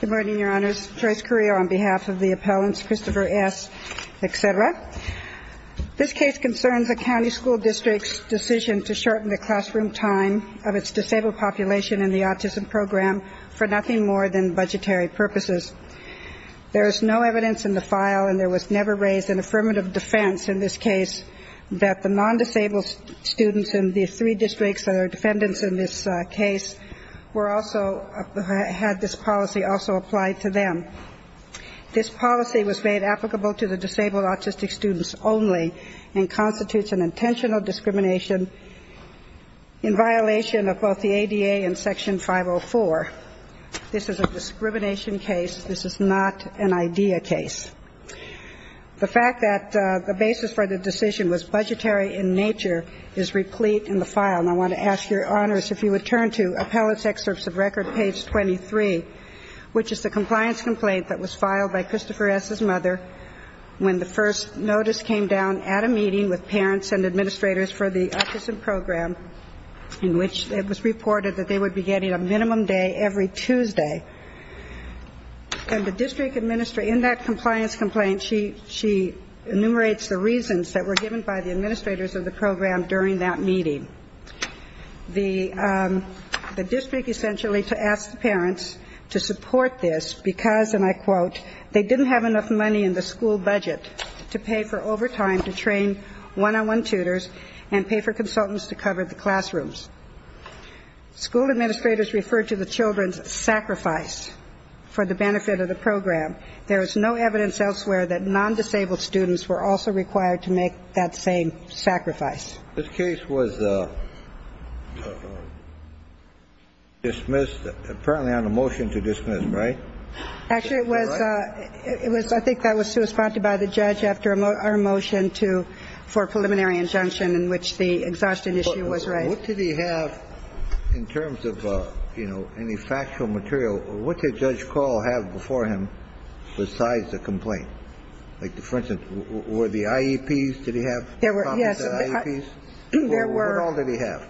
Good morning, your honors. Trace Carrillo on behalf of the appellants, Christopher S. etc. This case concerns a county school district's decision to shorten the classroom time of its disabled population in the autism program for nothing more than budgetary purposes. There is no evidence in the file and there was never raised an affirmative defense in this case that the non-disabled students in the three districts that are defendants in this case were also, had this policy also applied to them. This policy was made applicable to the disabled autistic students only and constitutes an intentional discrimination in violation of both the ADA and section 504. This is a discrimination case. This is not an idea case. The fact that the basis for the decision was budgetary in nature is replete in the file. And I want to ask your honors if you would turn to Appellants' Excerpts of Record, page 23, which is the compliance complaint that was filed by Christopher S.'s mother when the first notice came down at a meeting with parents and administrators for the autism program in which it was reported that they would be getting a minimum day every Tuesday. And the district administrator in that compliance complaint, she enumerates the reasons that were given by the administrators of the program during that meeting. The district essentially asked the parents to support this because, and I quote, they didn't have enough money in the school budget to pay for overtime to train one-on-one tutors and pay for consultants to cover the classrooms. School administrators referred to the children's sacrifice for the benefit of the program. There is no evidence elsewhere that non-disabled students were also required to make that same sacrifice. This case was dismissed, apparently on a motion to dismiss, right? Actually, it was ‑‑ I think that was to a spot by the judge after a motion to ‑‑ for a preliminary injunction in which the exhaustion issue was raised. What did he have in terms of, you know, any factual material? What did Judge Call have before him besides the complaint? Like, for instance, were the IEPs, did he have copies of the IEPs? Yes. What all did he have?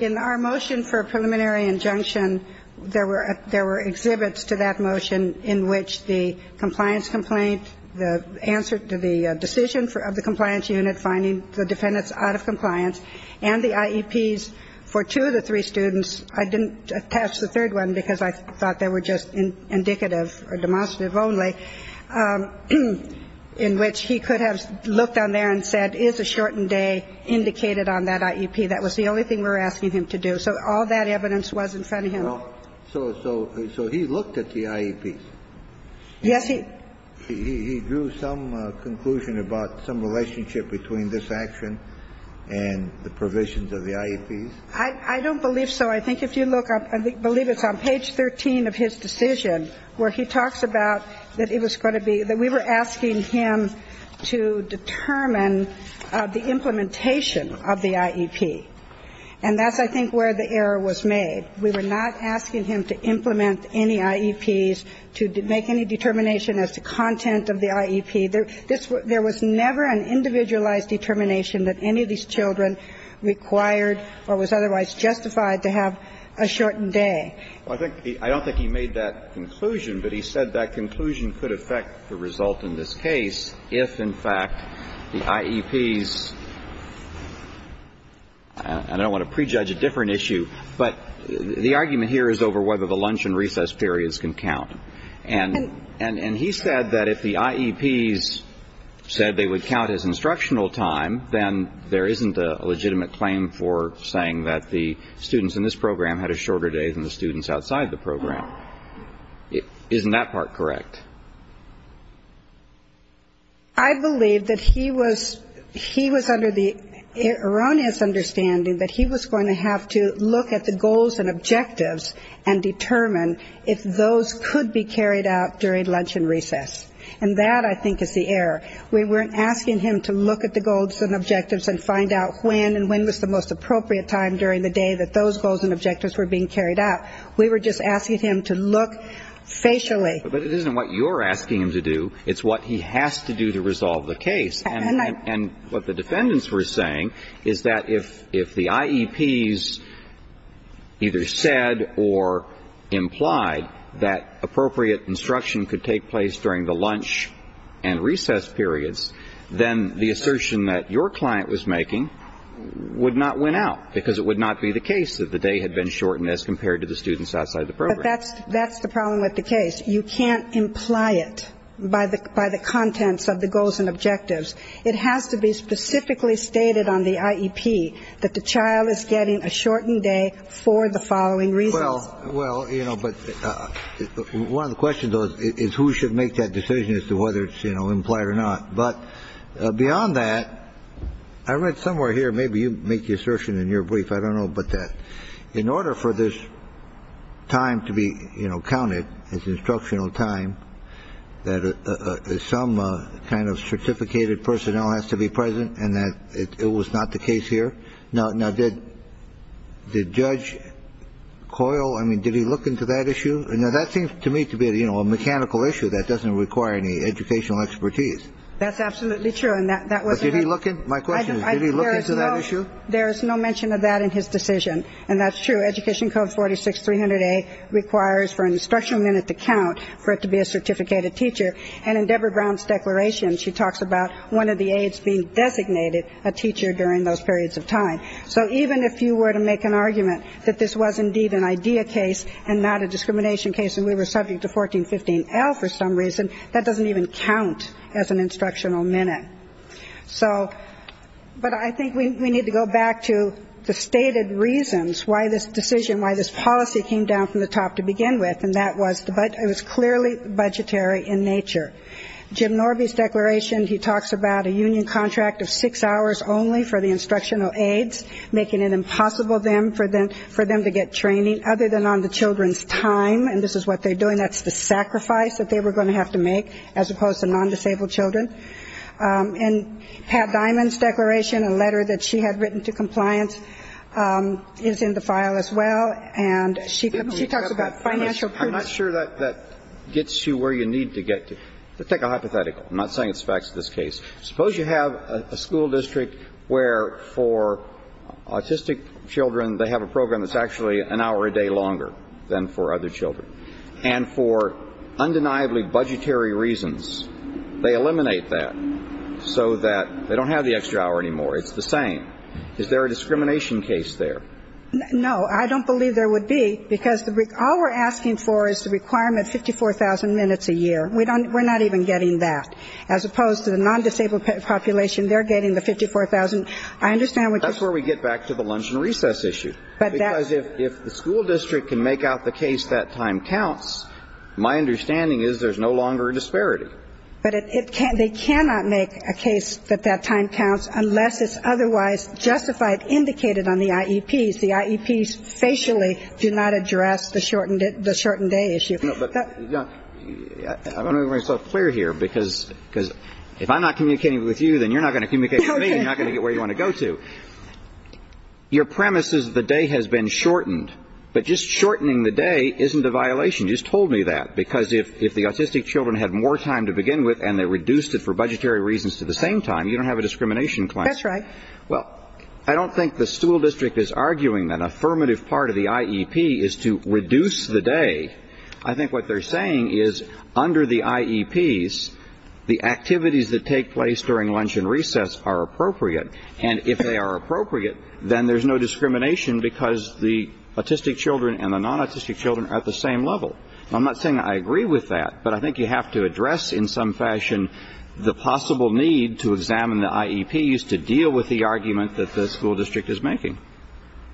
In our motion for a preliminary injunction, there were exhibits to that motion in which the compliance complaint, the answer to the decision of the compliance unit finding the defendants out of compliance, and the IEPs for two of the three students. I didn't attach the third one because I thought they were just indicative or demonstrative only, in which he could have looked on there and said, is a shortened day indicated on that IEP? That was the only thing we were asking him to do. So all that evidence was in front of him. Well, so he looked at the IEPs? Yes, he ‑‑ He drew some conclusion about some relationship between this action and the provisions of the IEPs? I don't believe so. I think if you look up, I believe it's on page 13 of his decision where he talks about that it was going to be ‑‑ that we were asking him to determine the implementation of the IEP. And that's, I think, where the error was made. We were not asking him to implement any IEPs, to make any determination as to content of the IEP. There was never an individualized determination that any of these children required or was otherwise justified to have a shortened day. Well, I think ‑‑ I don't think he made that conclusion, but he said that conclusion could affect the result in this case if, in fact, the IEPs ‑‑ I don't want to prejudge a different issue, but the argument here is over whether the lunch and recess periods can count. And he said that if the IEPs said they would count as instructional time, then there isn't a legitimate claim for saying that the students in this program had a shorter day than the students outside the program. Isn't that part correct? I believe that he was ‑‑ he was under the erroneous understanding that he was going to have to look at the goals and objectives and determine if those could be carried out during lunch and recess. And that, I think, is the error. We weren't asking him to look at the goals and objectives and find out when and when was the most appropriate time during the day that those goals and objectives were being carried out. We were just asking him to look facially. But it isn't what you're asking him to do. It's what he has to do to resolve the case. And what the defendants were saying is that if the IEPs either said or implied that appropriate instruction could take place during the lunch and recess periods, then the assertion that your client was making would not win out because it would not be the case that the day had been shortened as compared to the students outside the program. But that's the problem with the case. You can't imply it by the contents of the goals and objectives. It has to be specifically stated on the IEP that the child is getting a shortened day for the following reasons. Well, well, you know, but one of the questions is who should make that decision as to whether it's, you know, implied or not. But beyond that, I read somewhere here. Maybe you make the assertion in your brief. I don't know. But that in order for this time to be counted as instructional time, that some kind of certificated personnel has to be present and that it was not the case here. Now, did Judge Coyle, I mean, did he look into that issue? Now, that seems to me to be, you know, a mechanical issue that doesn't require any educational expertise. That's absolutely true. And that wasn't the case. But did he look into it? My question is, did he look into that issue? There is no mention of that in his decision. And that's true. Education Code 46-300A requires for an instructional minute to count for it to be a certificated teacher. And in Deborah Brown's declaration, she talks about one of the aides being designated a teacher during those periods of time. So even if you were to make an argument that this was indeed an IDEA case and not a discrimination case and we were subject to 1415L for some reason, that doesn't even count as an instructional minute. So but I think we need to go back to the stated reasons why this decision, why this policy came down from the top to begin with. And that was it was clearly budgetary in nature. Jim Norby's declaration, he talks about a union contract of six hours only for the instructional aides, making it impossible for them to get training other than on the children's time. And this is what they're doing. That's the sacrifice that they were going to have to make as opposed to non-disabled children. And Pat Diamond's declaration, a letter that she had written to compliance, is in the file as well. And she talks about financial – I'm not sure that that gets you where you need to get to. Take a hypothetical. I'm not saying it's the facts of this case. Suppose you have a school district where for autistic children they have a program that's actually an hour a day longer than for other children. And for undeniably budgetary reasons, they eliminate that so that they don't have the extra hour anymore. It's the same. Is there a discrimination case there? No. I don't believe there would be. Because all we're asking for is the requirement of 54,000 minutes a year. We're not even getting that. As opposed to the non-disabled population, they're getting the 54,000. I understand what you're saying. That's where we get back to the lunch and recess issue. But that's – Because if the school district can make out the case that time counts, my understanding is there's no longer a disparity. But it can't – they cannot make a case that that time counts unless it's otherwise justified, indicated on the IEPs. The IEPs facially do not address the shortened day issue. No, but – I want to make myself clear here, because if I'm not communicating with you, then you're not going to communicate with me and you're not going to get where you want to go to. Your premise is the day has been shortened. But just shortening the day isn't a violation. You just told me that. Because if the autistic children had more time to begin with and they reduced it for budgetary reasons to the same time, you don't have a discrimination claim. That's right. Well, I don't think the school district is arguing that an affirmative part of the IEP is to reduce the day. I think what they're saying is under the IEPs, the activities that take place during lunch and recess are appropriate. And if they are appropriate, then there's no discrimination because the autistic children and the non-autistic children are at the same level. I'm not saying I agree with that, but I think you have to address in some fashion the possible need to examine the IEPs to deal with the argument that the school district is making.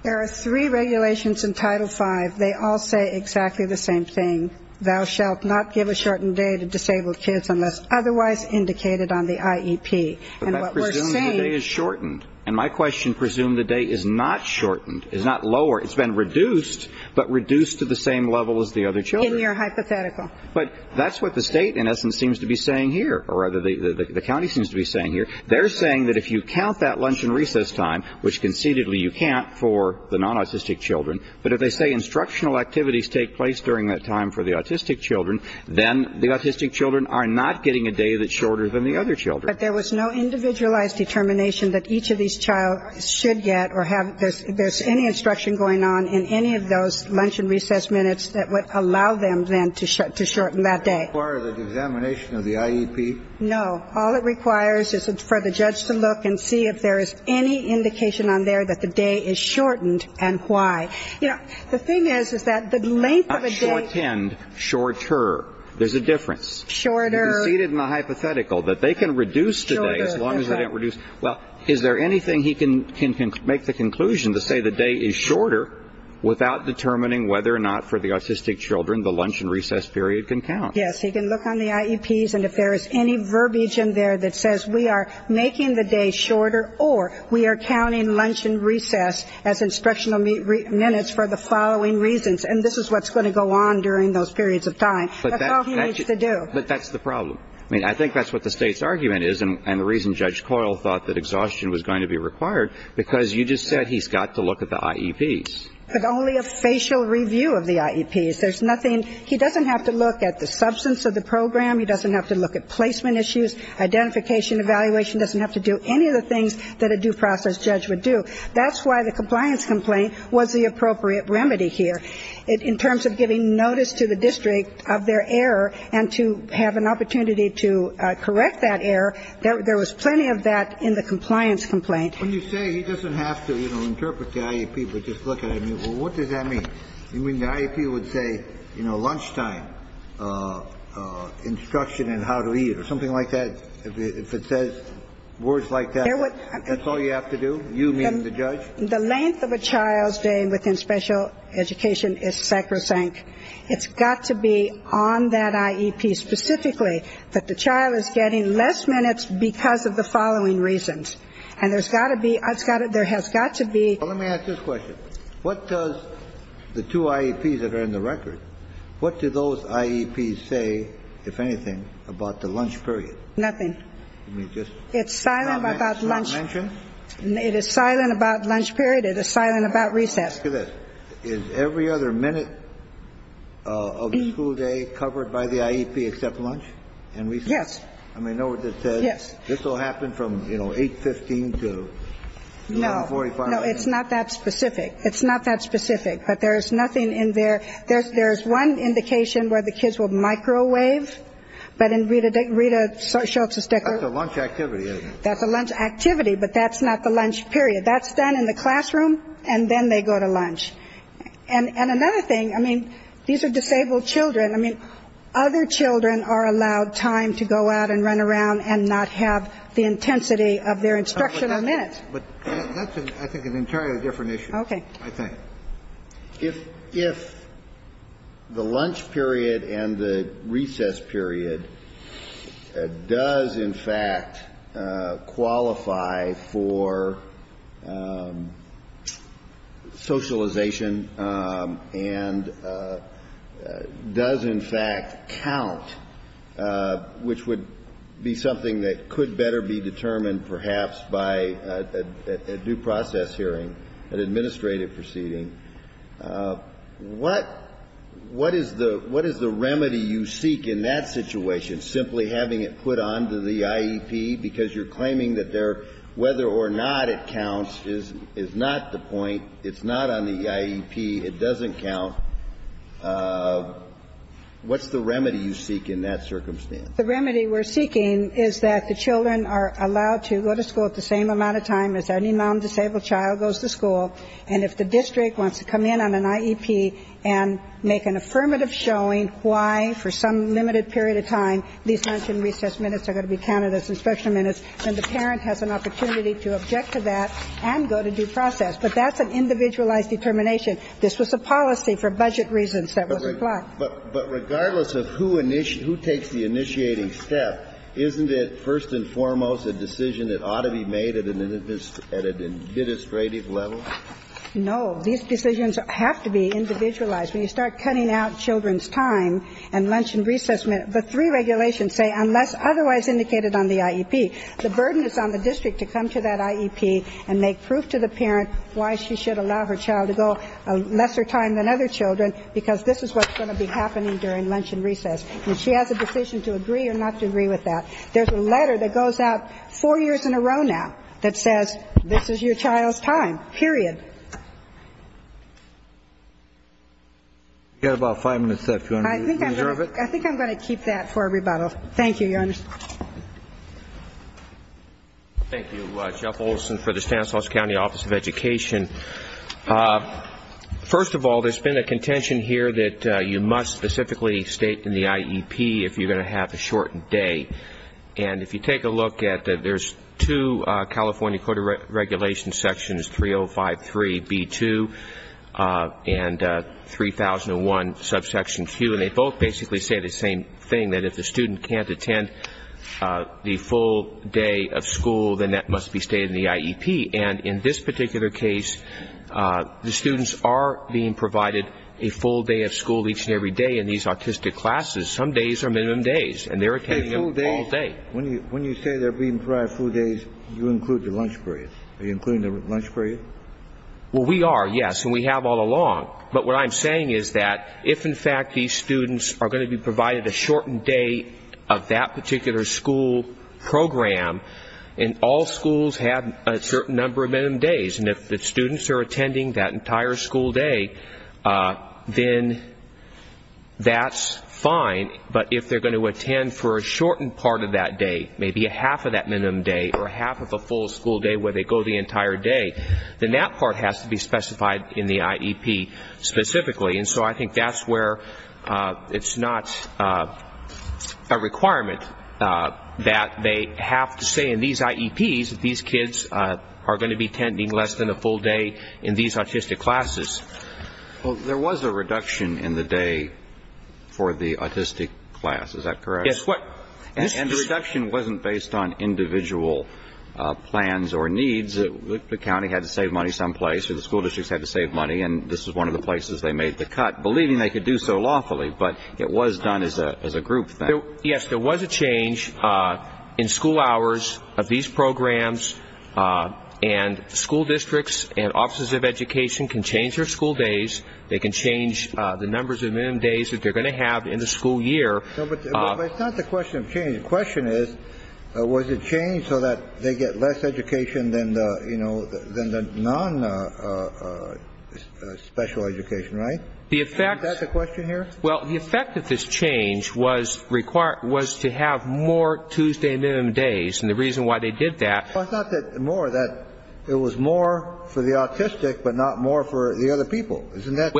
There are three regulations in Title V. They all say exactly the same thing. Thou shalt not give a shortened day to disabled kids unless otherwise indicated on the IEP. But that presumes the day is shortened. And my question presumes the day is not shortened, is not lower. It's been reduced, but reduced to the same level as the other children. In your hypothetical. But that's what the state in essence seems to be saying here, or rather the county seems to be saying here. They're saying that if you count that lunch and recess time, which concededly you can't for the non-autistic children, but if they say instructional activities take place during that time for the autistic children, then the autistic children are not getting a day that's shorter than the other children. But there was no individualized determination that each of these childs should get or have this, there's any instruction going on in any of those lunch and recess minutes that allow them then to shorten that day. Does it require the examination of the IEP? No. All it requires is for the judge to look and see if there is any indication on there that the day is shortened and why. You know, the thing is, is that the length of a day Not shortened, shorter. There's a difference. Shorter. You conceded in the hypothetical that they can reduce the day as long as they didn't reduce. Well, is there anything he can make the conclusion to say the day is shorter without determining whether or not for the autistic children the lunch and recess period can count? Yes, he can look on the IEPs and if there is any verbiage in there that says we are making the day shorter or we are counting lunch and recess as instructional minutes for the following reasons, and this is what's going to go on during those periods of time, that's all he needs to do. But that's the problem. I mean, I think that's what the state's argument is and the reason Judge Coyle thought that exhaustion was going to be required because you just said he's got to look at the IEPs. But only a facial review of the IEPs. There's nothing. He doesn't have to look at the substance of the program. He doesn't have to look at placement issues, identification, evaluation, doesn't have to do any of the things that a due process judge would do. That's why the compliance complaint was the appropriate remedy here. In terms of giving notice to the district of their error and to have an opportunity to correct that error, there was plenty of that in the compliance complaint. When you say he doesn't have to, you know, interpret the IEP, but just look at it, well, what does that mean? You mean the IEP would say, you know, lunchtime instruction and how to eat or something like that? If it says words like that, that's all you have to do? You mean the judge? The length of a child's day within special education is sacrosanct. It's got to be on that IEP specifically that the child is getting less minutes because of the following reasons. And there's got to be, there has got to be. Well, let me ask this question. What does the two IEPs that are in the record, what do those IEPs say, if anything, about the lunch period? Nothing. It's silent about lunch. It's not mentioned? It is silent about lunch period. It is silent about recess. Look at this. Is every other minute of the school day covered by the IEP except lunch and recess? Yes. I mean, know what this says? Yes. This will happen from, you know, 8.15 to 11.45? No. No, it's not that specific. It's not that specific. But there's nothing in there. There's one indication where the kids will microwave. But in Rita Schultz's record... That's a lunch activity, isn't it? That's a lunch activity, but that's not the lunch period. That's done in the classroom, and then they go to lunch. And another thing, I mean, these are disabled children. I mean, other children are allowed time to go out and run around and not have the intensity of their instructional minutes. But that's, I think, an entirely different issue. Okay. I think. If the lunch period and the recess period does, in fact, qualify for socialization and does, in fact, count, which would be something that could better be determined perhaps by a due process hearing, an administrative proceeding, what is the remedy you seek in that situation, simply having it put on to the IEP? Because you're saying, if the IEP, it doesn't count, what's the remedy you seek in that circumstance? The remedy we're seeking is that the children are allowed to go to school at the same amount of time as any non-disabled child goes to school. And if the district wants to come in on an IEP and make an affirmative showing why, for some limited period of time, these lunch and recess minutes are going to be counted as instructional minutes, then the parent has an opportunity to object to that and go to due process. But that's an individualized determination. This was a policy for budget reasons that was applied. But regardless of who takes the initiating step, isn't it first and foremost a decision that ought to be made at an administrative level? No. These decisions have to be individualized. When you start cutting out children's time and lunch and recess minutes, the three regulations say, unless otherwise indicated on the IEP, the burden is on the district to come to that IEP and make proof to the parent why she should allow her child to go a lesser time than other children, because this is what's going to be happening during lunch and recess. And she has a decision to agree or not to agree with that. There's a letter that goes out four years in a row now that says, this is your child's time, period. We've got about five minutes left. Do you want to reserve it? I think I'm going to keep that for a rebuttal. Thank you, Your Honor. Thank you, Jeff Olson for the Stanislaus County Office of Education. First of all, there's been a contention here that you must specifically state in the IEP if you're going to have a shortened day. And if you take a look at it, there's two California Code of Regulations sections, 3053B2 and 3001 subsection Q. They both basically say the same thing, that if the student can't attend the full day of school, then that must be stated in the IEP. And in this particular case, the students are being provided a full day of school each and every day in these autistic classes. Some days are minimum days, and they're attending them all day. When you say they're being provided full days, you include the lunch period. Are you including the lunch period? Well, we are, yes. And we have all along. But what I'm saying is that if, in fact, these students are going to be provided a shortened day of that particular school program, and all schools have a certain number of minimum days, and if the students are attending that entire school day, then that's fine. But if they're going to attend for a shortened part of that day, maybe a half of that minimum day or a half of a full school day where they go the entire day, then that part has to be specifically. And so I think that's where it's not a requirement that they have to say in these IEPs that these kids are going to be attending less than a full day in these autistic classes. Well, there was a reduction in the day for the autistic class. Is that correct? Yes. And the reduction wasn't based on individual plans or needs. The county had to save money someplace, or the school districts had to save money. And this is one of the places they made the cut, believing they could do so lawfully. But it was done as a group thing. Yes, there was a change in school hours of these programs. And school districts and offices of education can change their school days. They can change the numbers of minimum days that they're going to have in the school year. No, but it's not the question of change. The question is, was it changed so that they get less education than the non-special education, right? Is that the question here? Well, the effect of this change was to have more Tuesday minimum days. And the reason why they did that. Well, it's not that more. It was more for the autistic, but not more for the other people. Isn't that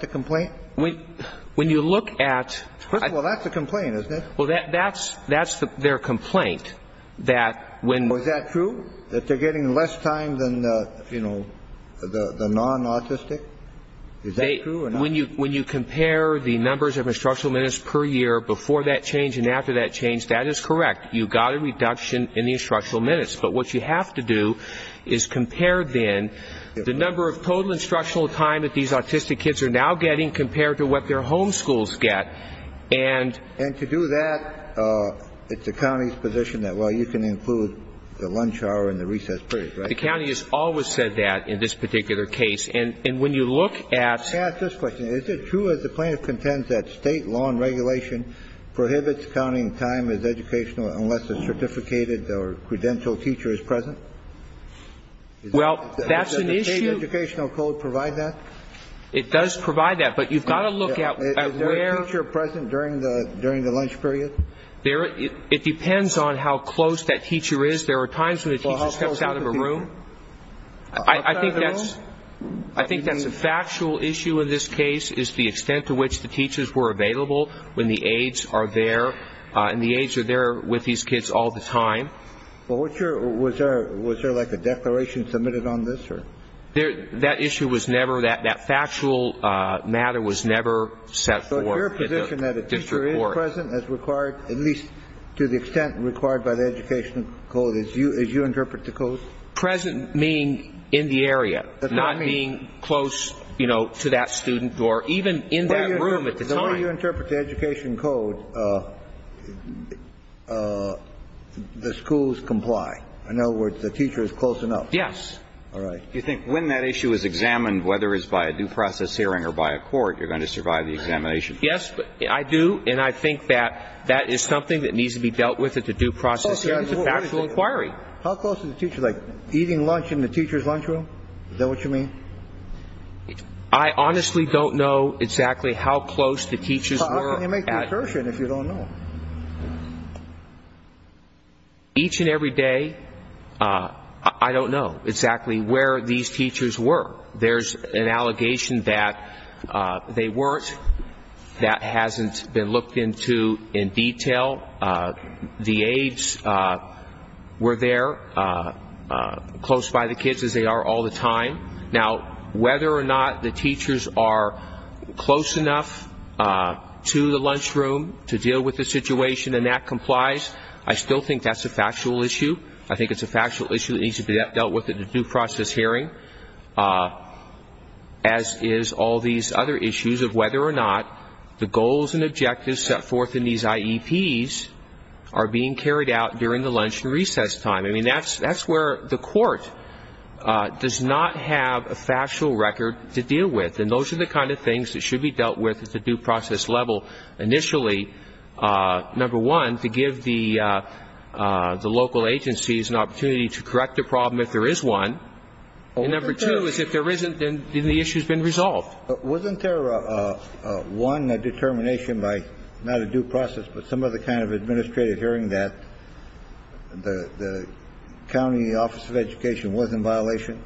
the complaint? When you look at. Well, that's a complaint, isn't it? Well, that's that's their complaint. That when was that true that they're getting less time than, you know, the non-autistic. Is that true? When you when you compare the numbers of instructional minutes per year before that change and after that change, that is correct. You got a reduction in the instructional minutes. But what you have to do is compare then the number of total instructional time that these autistic kids are now getting compared to what their home schools get. And. And to do that, it's the county's position that, well, you can include the lunch hour and the recess period, right? The county has always said that in this particular case. And when you look at. Can I ask this question? Is it true, as the plaintiff contends, that state law and regulation prohibits counting time as educational unless a certificated or credentialed teacher is present? Well, that's an issue. Does the state educational code provide that? It does provide that. But you've got to look at where. You're present during the during the lunch period there. It depends on how close that teacher is. There are times when it comes out of a room. I think that's I think that's a factual issue in this case is the extent to which the teachers were available when the aides are there and the aides are there with these kids all the time. Well, what was there? Was there like a declaration submitted on this or there? That issue was never that that factual matter was never set. So your position that a teacher is present is required, at least to the extent required by the educational code, as you as you interpret the code? Present, meaning in the area, not being close to that student or even in that room at the time. The way you interpret the educational code, the schools comply. In other words, the teacher is close enough. Yes. All right. Do you think when that issue is examined, whether it's by a due process hearing or by a court, you're going to survive the examination? Yes, I do. And I think that that is something that needs to be dealt with at the due process hearing. It's a factual inquiry. How close to the teacher? Like eating lunch in the teacher's lunchroom? Is that what you mean? I honestly don't know exactly how close the teachers were. How can you make the assertion if you don't know? Each and every day, I don't know exactly where these teachers were. There's an allegation that they weren't, that hasn't been looked into in detail. The aides were there, close by the kids, as they are all the time. Now, whether or not the teachers are close enough to the lunchroom to deal with the situation and that complies, I still think that's a factual issue. I think it's a factual issue that needs to be dealt with at the due process hearing. As is all these other issues of whether or not the goals and objectives set forth in these IEPs are being carried out during the lunch and recess time. I mean, that's where the court does not have a factual record to deal with. And those are the kind of things that should be dealt with at the due process level initially. Number one, to give the local agencies an opportunity to correct the problem if there is one. And number two is if there isn't, then the issue's been resolved. Wasn't there, one, a determination by, not a due process, but some other kind of administrative hearing that the county office of education was in violation?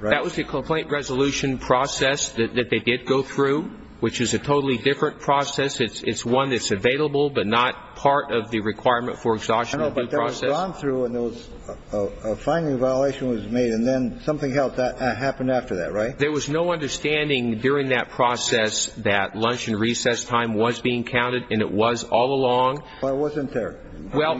That was the complaint resolution process that they did go through, which is a totally different process. It's one that's available, but not part of the requirement for exhaustion of due process. Gone through and there was a finding violation was made, and then something else happened after that, right? There was no understanding during that process that lunch and recess time was being counted, and it was all along. Well, it wasn't there. Well,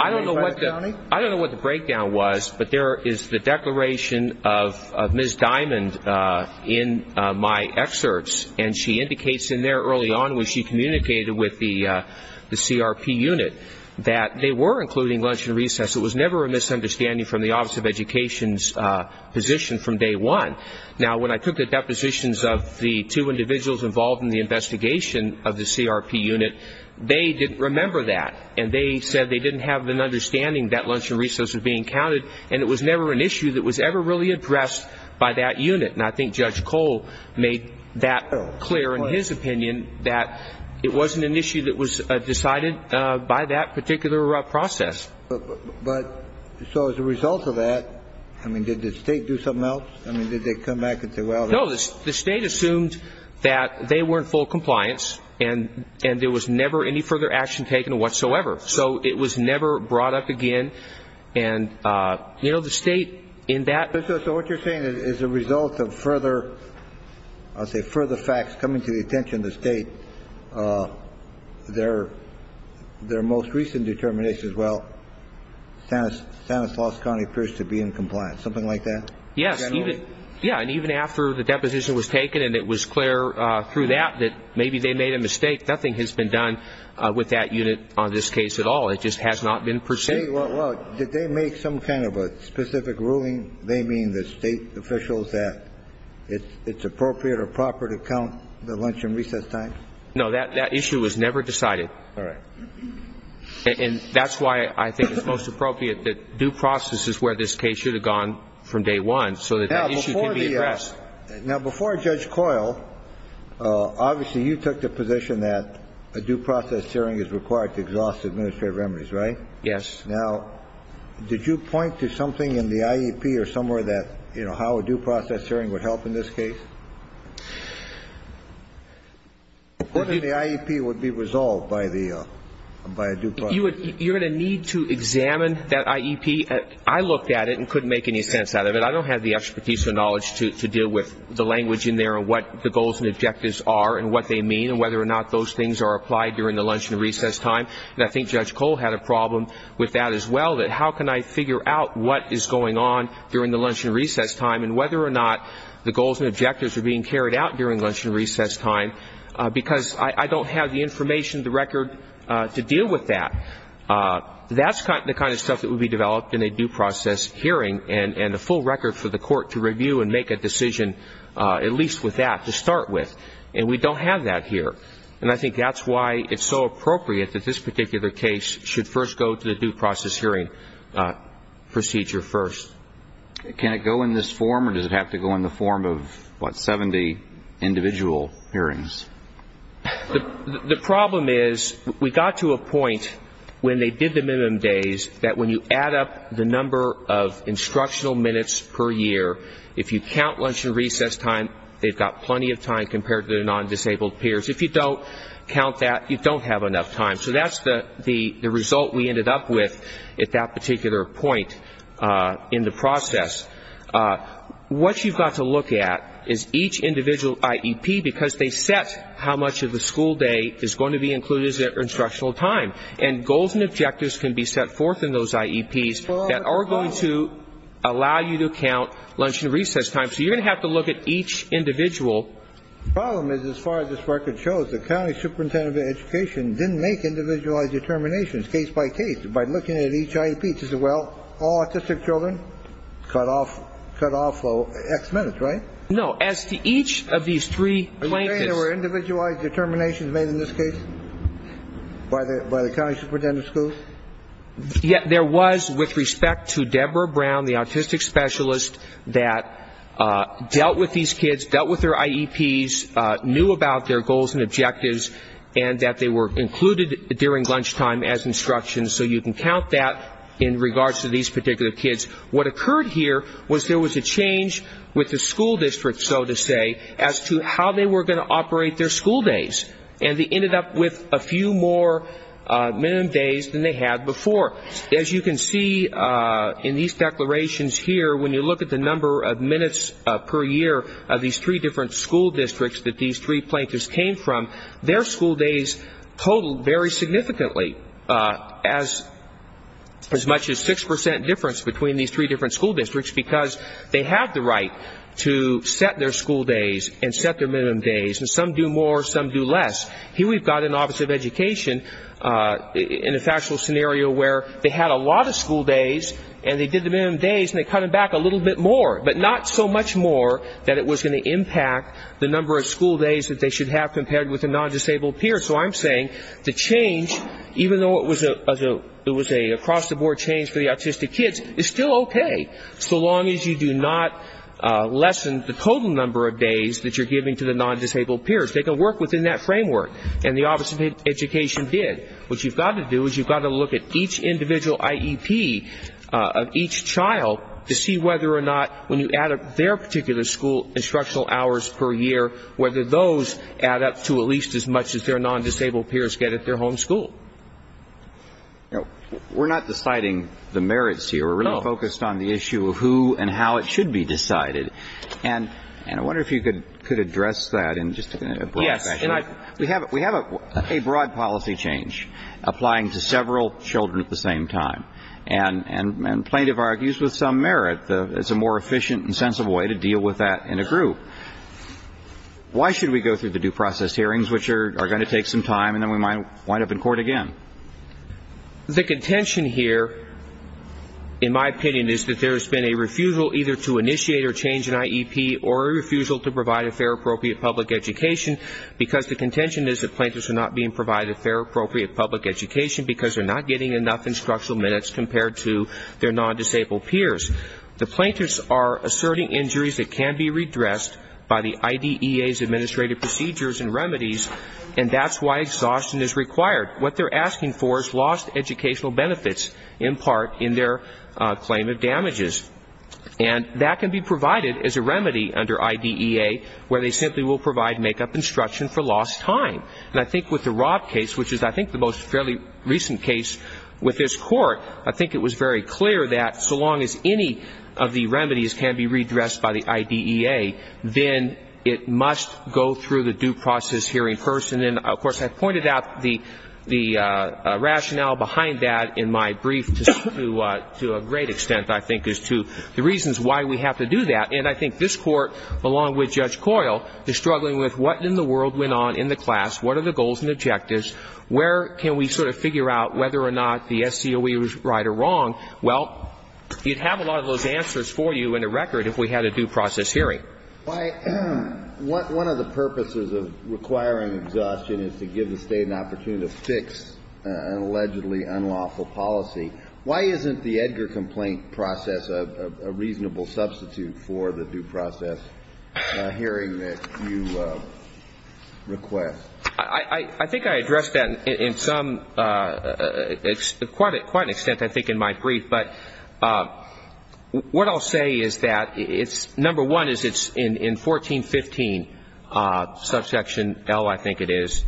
I don't know what the breakdown was, but there is the declaration of Ms. Diamond in my excerpts, and she indicates in there early on when she communicated with the CRP unit that they were including lunch and recess. It was never a misunderstanding from the office of education's position from day one. Now, when I took the depositions of the two individuals involved in the investigation of the CRP unit, they didn't remember that, and they said they didn't have an understanding that lunch and recess was being counted, and it was never an issue that was ever really addressed by that unit. And I think Judge Cole made that clear in his opinion that it wasn't an issue that was decided by that particular process. But so as a result of that, I mean, did the state do something else? I mean, did they come back and say, well... No, the state assumed that they were in full compliance, and there was never any further action taken whatsoever. So it was never brought up again, and, you know, the state in that... So what you're saying is as a result of further, I'll say further facts coming to the their most recent determinations, well, Stanislaus County appears to be in compliance, something like that? Yes, yeah, and even after the deposition was taken, and it was clear through that that maybe they made a mistake. Nothing has been done with that unit on this case at all. It just has not been pursued. Say, well, did they make some kind of a specific ruling? They mean the state officials that it's appropriate or proper to count the lunch and recess time? No, that issue was never decided. All right. And that's why I think it's most appropriate that due process is where this case should have gone from day one so that that issue can be addressed. Now, before Judge Coyle, obviously you took the position that a due process hearing is required to exhaust administrative remedies, right? Yes. Now, did you point to something in the IEP or somewhere that, you know, how a due process hearing would help in this case? The IEP would be resolved by a due process hearing. You're going to need to examine that IEP. I looked at it and couldn't make any sense out of it. I don't have the expertise or knowledge to deal with the language in there and what the goals and objectives are and what they mean and whether or not those things are applied during the lunch and recess time. And I think Judge Coyle had a problem with that as well, that how can I figure out what is going on during the lunch and recess time and whether or not the goals and objectives are being carried out during lunch and recess time because I don't have the information, the record to deal with that. That's the kind of stuff that would be developed in a due process hearing and a full record for the court to review and make a decision, at least with that, to start with. And we don't have that here. And I think that's why it's so appropriate that this particular case should first go to the due process hearing procedure first. Can it go in this form or does it have to go in the form of, what, 70 individual hearings? The problem is we got to a point when they did the minimum days that when you add up the number of instructional minutes per year, if you count lunch and recess time, they've got plenty of time compared to their non-disabled peers. If you don't count that, you don't have enough time. So that's the result we ended up with at that particular point in the process. What you've got to look at is each individual IEP because they set how much of the school day is going to be included as their instructional time. And goals and objectives can be set forth in those IEPs that are going to allow you to count lunch and recess time. So you're going to have to look at each individual. The problem is, as far as this record shows, the county superintendent of education didn't make individualized determinations case by case. By looking at each IEP, she said, well, all autistic children cut off X minutes, right? No. As to each of these three blankets. Are you saying there were individualized determinations made in this case by the county superintendent of schools? Yeah. There was with respect to Deborah Brown, the autistic specialist that dealt with these during lunchtime as instructions. So you can count that in regards to these particular kids. What occurred here was there was a change with the school district, so to say, as to how they were going to operate their school days. And they ended up with a few more minimum days than they had before. As you can see in these declarations here, when you look at the number of minutes per year of these three different school districts that these three plaintiffs came from, their school days totaled very significantly as much as 6% difference between these three different school districts because they had the right to set their school days and set their minimum days. And some do more, some do less. Here we've got an office of education in a factual scenario where they had a lot of school days and they did the minimum days and they cut them back a little bit more, but not so much more that it was going to impact the number of school days that they should have had with the non-disabled peers. So I'm saying the change, even though it was an across-the-board change for the autistic kids, is still okay, so long as you do not lessen the total number of days that you're giving to the non-disabled peers. They can work within that framework, and the office of education did. What you've got to do is you've got to look at each individual IEP of each child to see whether or not when you add up their particular school instructional hours per year, whether those add up to at least as much as their non-disabled peers get at their home school. We're not deciding the merits here. We're really focused on the issue of who and how it should be decided. And I wonder if you could address that in just a broad fashion. We have a broad policy change applying to several children at the same time, and plaintiff argues with some merit, it's a more efficient and sensible way to deal with that in a group. Why should we go through the due process hearings, which are going to take some time, and then we might wind up in court again? The contention here, in my opinion, is that there's been a refusal either to initiate or change an IEP, or a refusal to provide a fair, appropriate public education, because the contention is that plaintiffs are not being provided fair, appropriate public education because they're not getting enough instructional minutes compared to their non-disabled peers. The plaintiffs are asserting injuries that can be redressed by the IDEA's administrative procedures and remedies, and that's why exhaustion is required. What they're asking for is lost educational benefits, in part, in their claim of damages. And that can be provided as a remedy under IDEA, where they simply will provide makeup instruction for lost time. And I think with the Rob case, which is, I think, the most fairly recent case with this of the remedies can be redressed by the IDEA, then it must go through the due process hearing person. And, of course, I pointed out the rationale behind that in my brief to a great extent, I think, as to the reasons why we have to do that. And I think this Court, along with Judge Coyle, is struggling with what in the world went on in the class, what are the goals and objectives, where can we sort of figure out whether or not the SCOE was right or wrong? Well, you'd have a lot of those answers for you in a record if we had a due process hearing. Why, one of the purposes of requiring exhaustion is to give the State an opportunity to fix an allegedly unlawful policy. Why isn't the Edgar complaint process a reasonable substitute for the due process hearing that you request? I think I addressed that in some, quite an extent, I think, in my brief. But what I'll say is that it's, number one, is it's in 1415, subsection L, I think it is,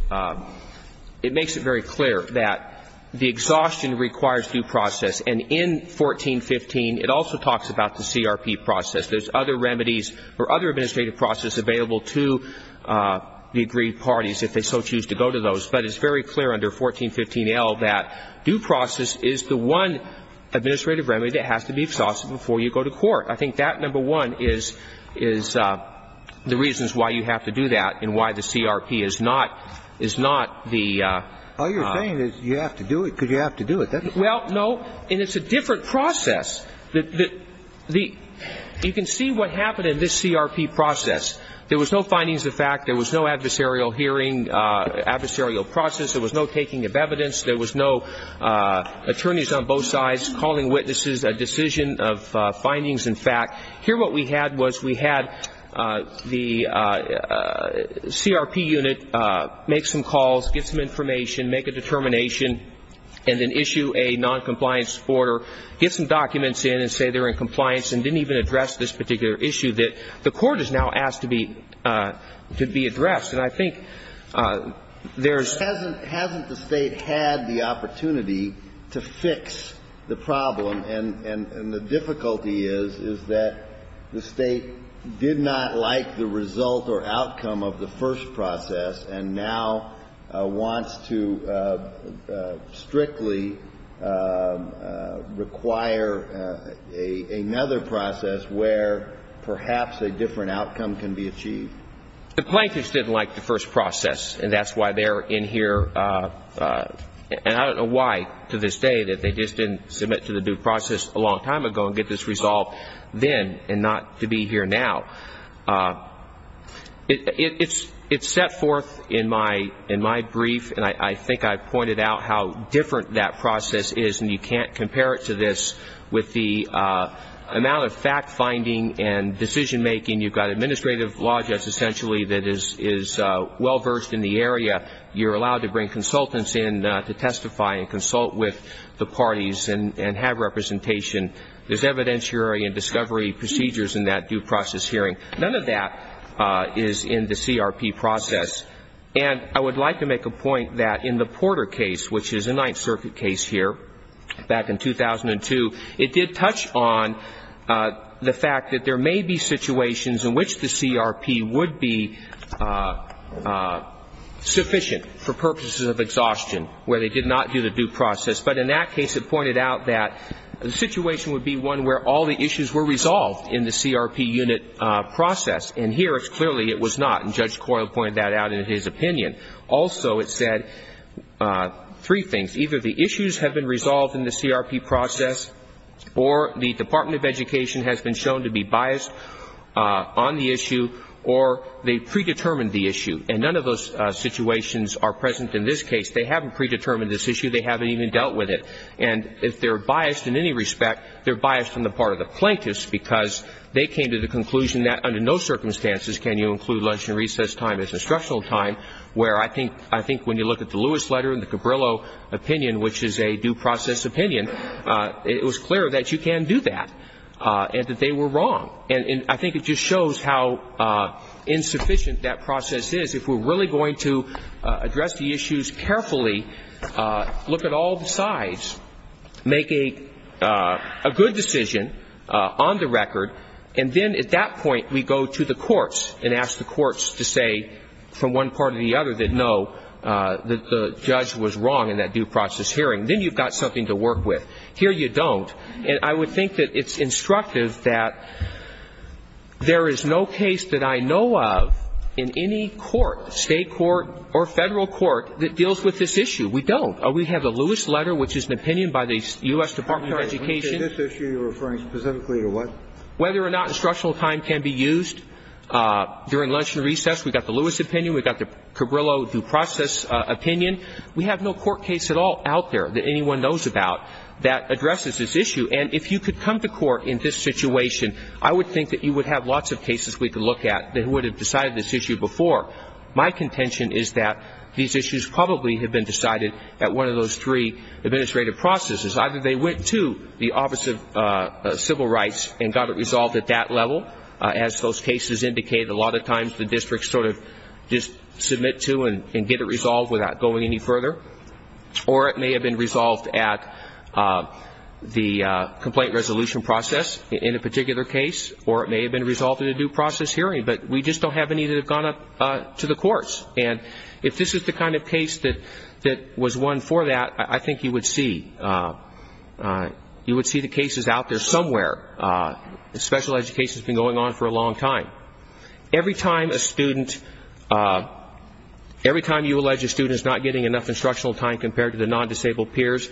it makes it very clear that the exhaustion requires due process. And in 1415, it also talks about the CRP process. There's other remedies or other administrative processes available to the agreed parties if they so choose to go to those. But it's very clear under 1415L that due process is the one administrative remedy that has to be exhausted before you go to court. I think that, number one, is the reasons why you have to do that and why the CRP is not the... All you're saying is you have to do it because you have to do it. Well, no, and it's a different process. You can see what happened in this CRP process. There was no findings of fact. There was no adversarial hearing, adversarial process. There was no taking of evidence. There was no attorneys on both sides calling witnesses a decision of findings and fact. Here, what we had was we had the CRP unit make some calls, get some information, make a determination, and then issue a noncompliance order, get some documents in and say they're in compliance and didn't even address this particular issue that the court has now asked to be addressed. And I think there's... But hasn't the State had the opportunity to fix the problem? And the difficulty is, is that the State did not like the result or outcome of the first process where perhaps a different outcome can be achieved. The plaintiffs didn't like the first process, and that's why they're in here. And I don't know why, to this day, that they just didn't submit to the due process a long time ago and get this resolved then and not to be here now. It's set forth in my brief, and I think I pointed out how different that process is, and you can't compare it to this with the amount of fact-finding and decision-making. You've got administrative law, just essentially, that is well-verged in the area. You're allowed to bring consultants in to testify and consult with the parties and have representation. There's evidentiary and discovery procedures in that due process hearing. None of that is in the CRP process. And I would like to make a point that in the Porter case, which is a Ninth Circuit case here back in 2002, it did touch on the fact that there may be situations in which the CRP would be sufficient for purposes of exhaustion where they did not do the due process. But in that case, it pointed out that the situation would be one where all the issues were resolved in the CRP unit process. And here, it's clearly it was not. And Judge Coyle pointed that out in his opinion. Also, it said three things. Either the issues have been resolved in the CRP process, or the Department of Education has been shown to be biased on the issue, or they predetermined the issue. And none of those situations are present in this case. They haven't predetermined this issue. They haven't even dealt with it. And if they're biased in any respect, they're biased on the part of the plaintiffs, because they came to the conclusion that under no circumstances can you include lunch and I think when you look at the Lewis letter and the Cabrillo opinion, which is a due process opinion, it was clear that you can do that, and that they were wrong. And I think it just shows how insufficient that process is. If we're really going to address the issues carefully, look at all the sides, make a good decision on the record, and then at that point, we go to the courts and ask the courts to say from one part or the other that no, that the judge was wrong in that due process hearing. Then you've got something to work with. Here you don't. And I would think that it's instructive that there is no case that I know of in any court, state court or federal court, that deals with this issue. We don't. We have the Lewis letter, which is an opinion by the U.S. Department of Education. This issue you're referring specifically to what? Whether or not instructional time can be used during lunch and recess. We've got the Lewis opinion. We've got the Cabrillo due process opinion. We have no court case at all out there that anyone knows about that addresses this issue. And if you could come to court in this situation, I would think that you would have lots of cases we could look at that would have decided this issue before. My contention is that these issues probably have been decided at one of those three administrative processes. Either they went to the Office of Civil Rights and got it resolved at that level, as those just submit to and get it resolved without going any further. Or it may have been resolved at the complaint resolution process in a particular case. Or it may have been resolved in a due process hearing. But we just don't have any that have gone up to the courts. And if this is the kind of case that was won for that, I think you would see the cases out there somewhere. Special education has been going on for a long time. Every time a student, every time you allege a student is not getting enough instructional time compared to the non-disabled peers,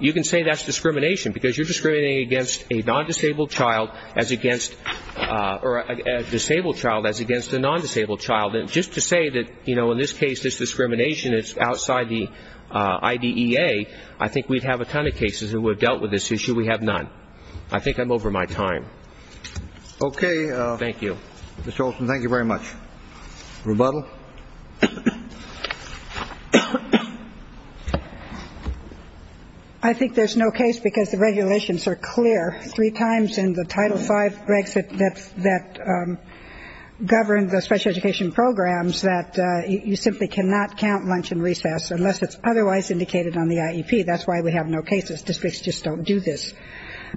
you can say that's discrimination. Because you're discriminating against a non-disabled child as against, or a disabled child as against a non-disabled child. Just to say that in this case, this discrimination is outside the IDEA, I think we'd have a ton of cases that would have dealt with this issue. We have none. I think I'm over my time. OK. Thank you. Ms. Olson, thank you very much. Rebuttal. I think there's no case because the regulations are clear. Three times in the Title V Brexit that govern the special education programs that you simply cannot count lunch and recess unless it's otherwise indicated on the IEP. That's why we have no cases. Districts just don't do this.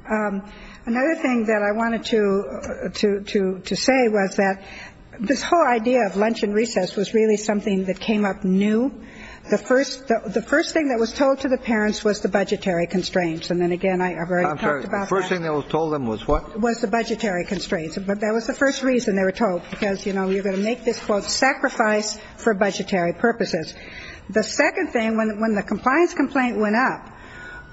Another thing that I wanted to say was that this whole idea of lunch and recess was really something that came up new. The first thing that was told to the parents was the budgetary constraints. And then again, I've already talked about that. I'm sorry, the first thing that was told them was what? Was the budgetary constraints. But that was the first reason they were told. Because, you know, you're going to make this, quote, sacrifice for budgetary purposes. The second thing, when the compliance complaint went up,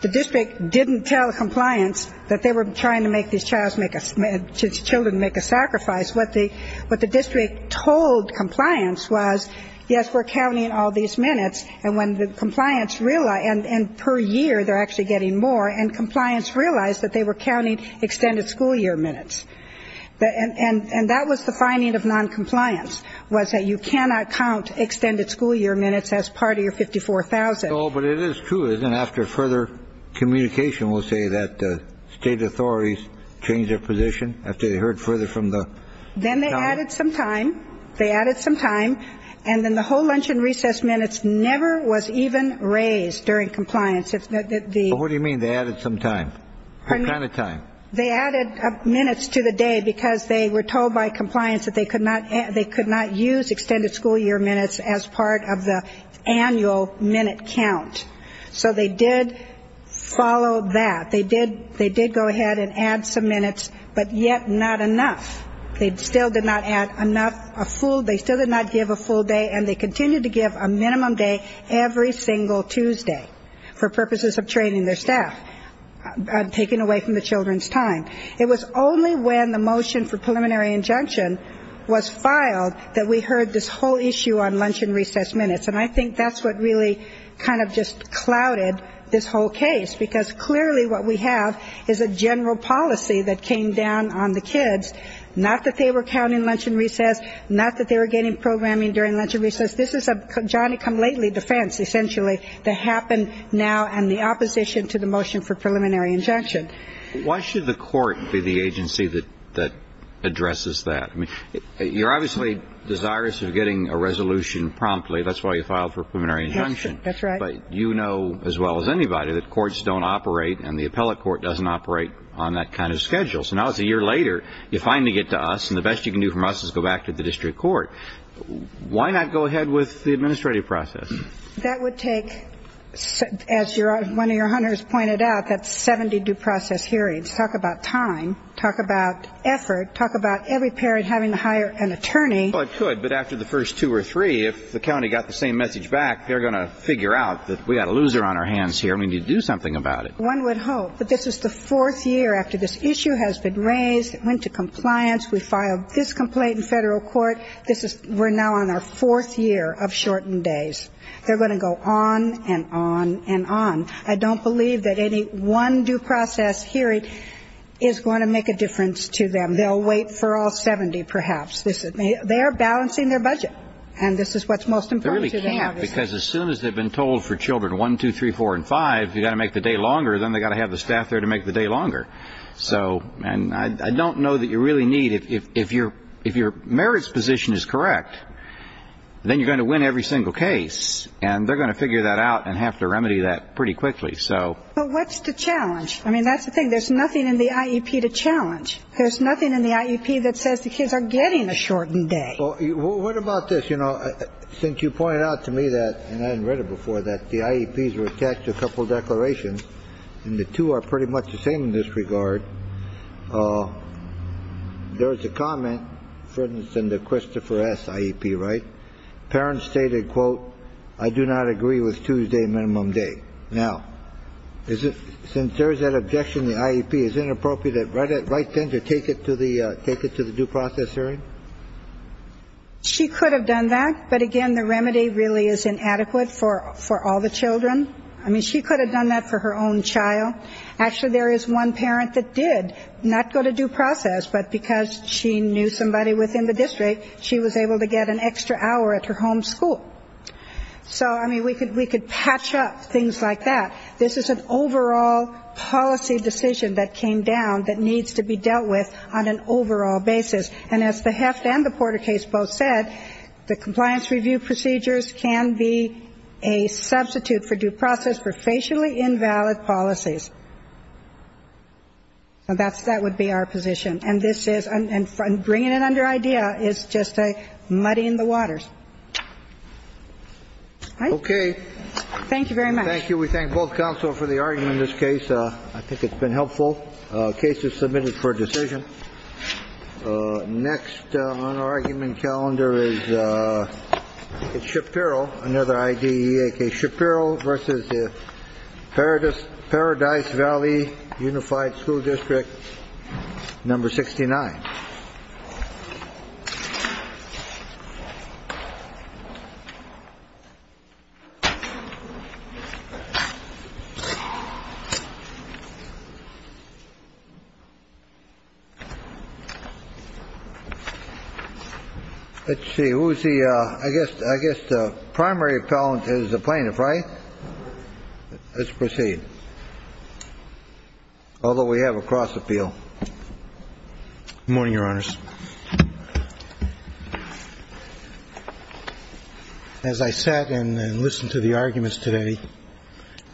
the district didn't tell compliance that they were trying to make these children make a sacrifice. What the district told compliance was, yes, we're counting all these minutes. And when the compliance realized, and per year, they're actually getting more. And compliance realized that they were counting extended school year minutes. And that was the finding of noncompliance, was that you cannot count extended school year minutes as part of your 54,000. But it is true, isn't it? After further communication, we'll say that state authorities changed their position after they heard further from the. Then they added some time. They added some time. And then the whole lunch and recess minutes never was even raised during compliance. What do you mean they added some time? What kind of time? They added minutes to the day because they were told by compliance that they could not use extended school year minutes as part of the annual minute count. So they did follow that. They did go ahead and add some minutes, but yet not enough. They still did not add enough, a full, they still did not give a full day. And they continued to give a minimum day every single Tuesday for purposes of training their staff, taking away from the children's time. It was only when the motion for preliminary injunction was filed that we heard this whole issue on lunch and recess minutes. And I think that's what really kind of just clouded this whole case. Because clearly what we have is a general policy that came down on the kids, not that they were counting lunch and recess, not that they were getting programming during lunch and recess. This is a Johnny-come-lately defense, essentially, that happened now and the opposition to the motion for preliminary injunction. Why should the court be the agency that addresses that? I mean, you're obviously desirous of getting a resolution promptly. That's why you filed for a preliminary injunction. That's right. But you know as well as anybody that courts don't operate and the appellate court doesn't operate on that kind of schedule. So now it's a year later, you finally get to us, and the best you can do from us is go back to the district court. Why not go ahead with the administrative process? That would take, as one of your hunters pointed out, that's 70 due process hearings. Talk about time. Talk about effort. Talk about every parent having to hire an attorney. Well, it could, but after the first two or three, if the county got the same message back, they're going to figure out that we got a loser on our hands here and we need to do something about it. One would hope that this is the fourth year after this issue has been raised, it went to compliance, we filed this complaint in federal court, we're now on our fourth year of shortened days. They're going to go on and on and on. I don't believe that any one due process hearing is going to make a difference to them. They'll wait for all 70, perhaps. They're balancing their budget. And this is what's most important to them. They really can't, because as soon as they've been told for children one, two, three, four, and five, you've got to make the day longer, then they've got to have the staff there to make the day longer. So, and I don't know that you really need, if your merits position is correct, then you're going to win every single case, and they're going to figure that out and have to remedy that pretty quickly. So. But what's the challenge? I mean, that's the thing. There's nothing in the IEP to challenge. There's nothing in the IEP that says the kids are getting a shortened day. Well, what about this? You know, since you pointed out to me that, and I hadn't read it before, that the IEPs were attached to a couple of declarations, and the two are pretty much the same in this regard, there's a comment, for instance, in the Christopher S. IEP, right? Parents stated, quote, I do not agree with Tuesday minimum day. Now, is it, since there's that objection, the IEP, is it inappropriate right then to take it to the due process hearing? She could have done that, but again, the remedy really is inadequate for all the children. I mean, she could have done that for her own child. Actually, there is one parent that did not go to due process, but because she knew within the district, she was able to get an extra hour at her home school. So, I mean, we could patch up things like that. This is an overall policy decision that came down that needs to be dealt with on an overall basis, and as the Heft and the Porter case both said, the compliance review procedures can be a substitute for due process for facially invalid policies. So that's, that would be our position, and this is, and bringing it under IDEA is just a muddying the waters. All right? Okay. Thank you very much. Thank you. We thank both counsel for the argument in this case. I think it's been helpful. The case is submitted for a decision. Next on our argument calendar is Shapiro, another IDEA case, Shapiro v. Paradis, Valley Unified School District, number 69. Let's see, who's the, I guess, I guess the primary appellant is the plaintiff, right? All right. Let's proceed. Although we have a cross appeal. Good morning, Your Honors. As I sat and listened to the arguments today,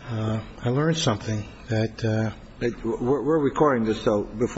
I learned something that... We're recording this, so before...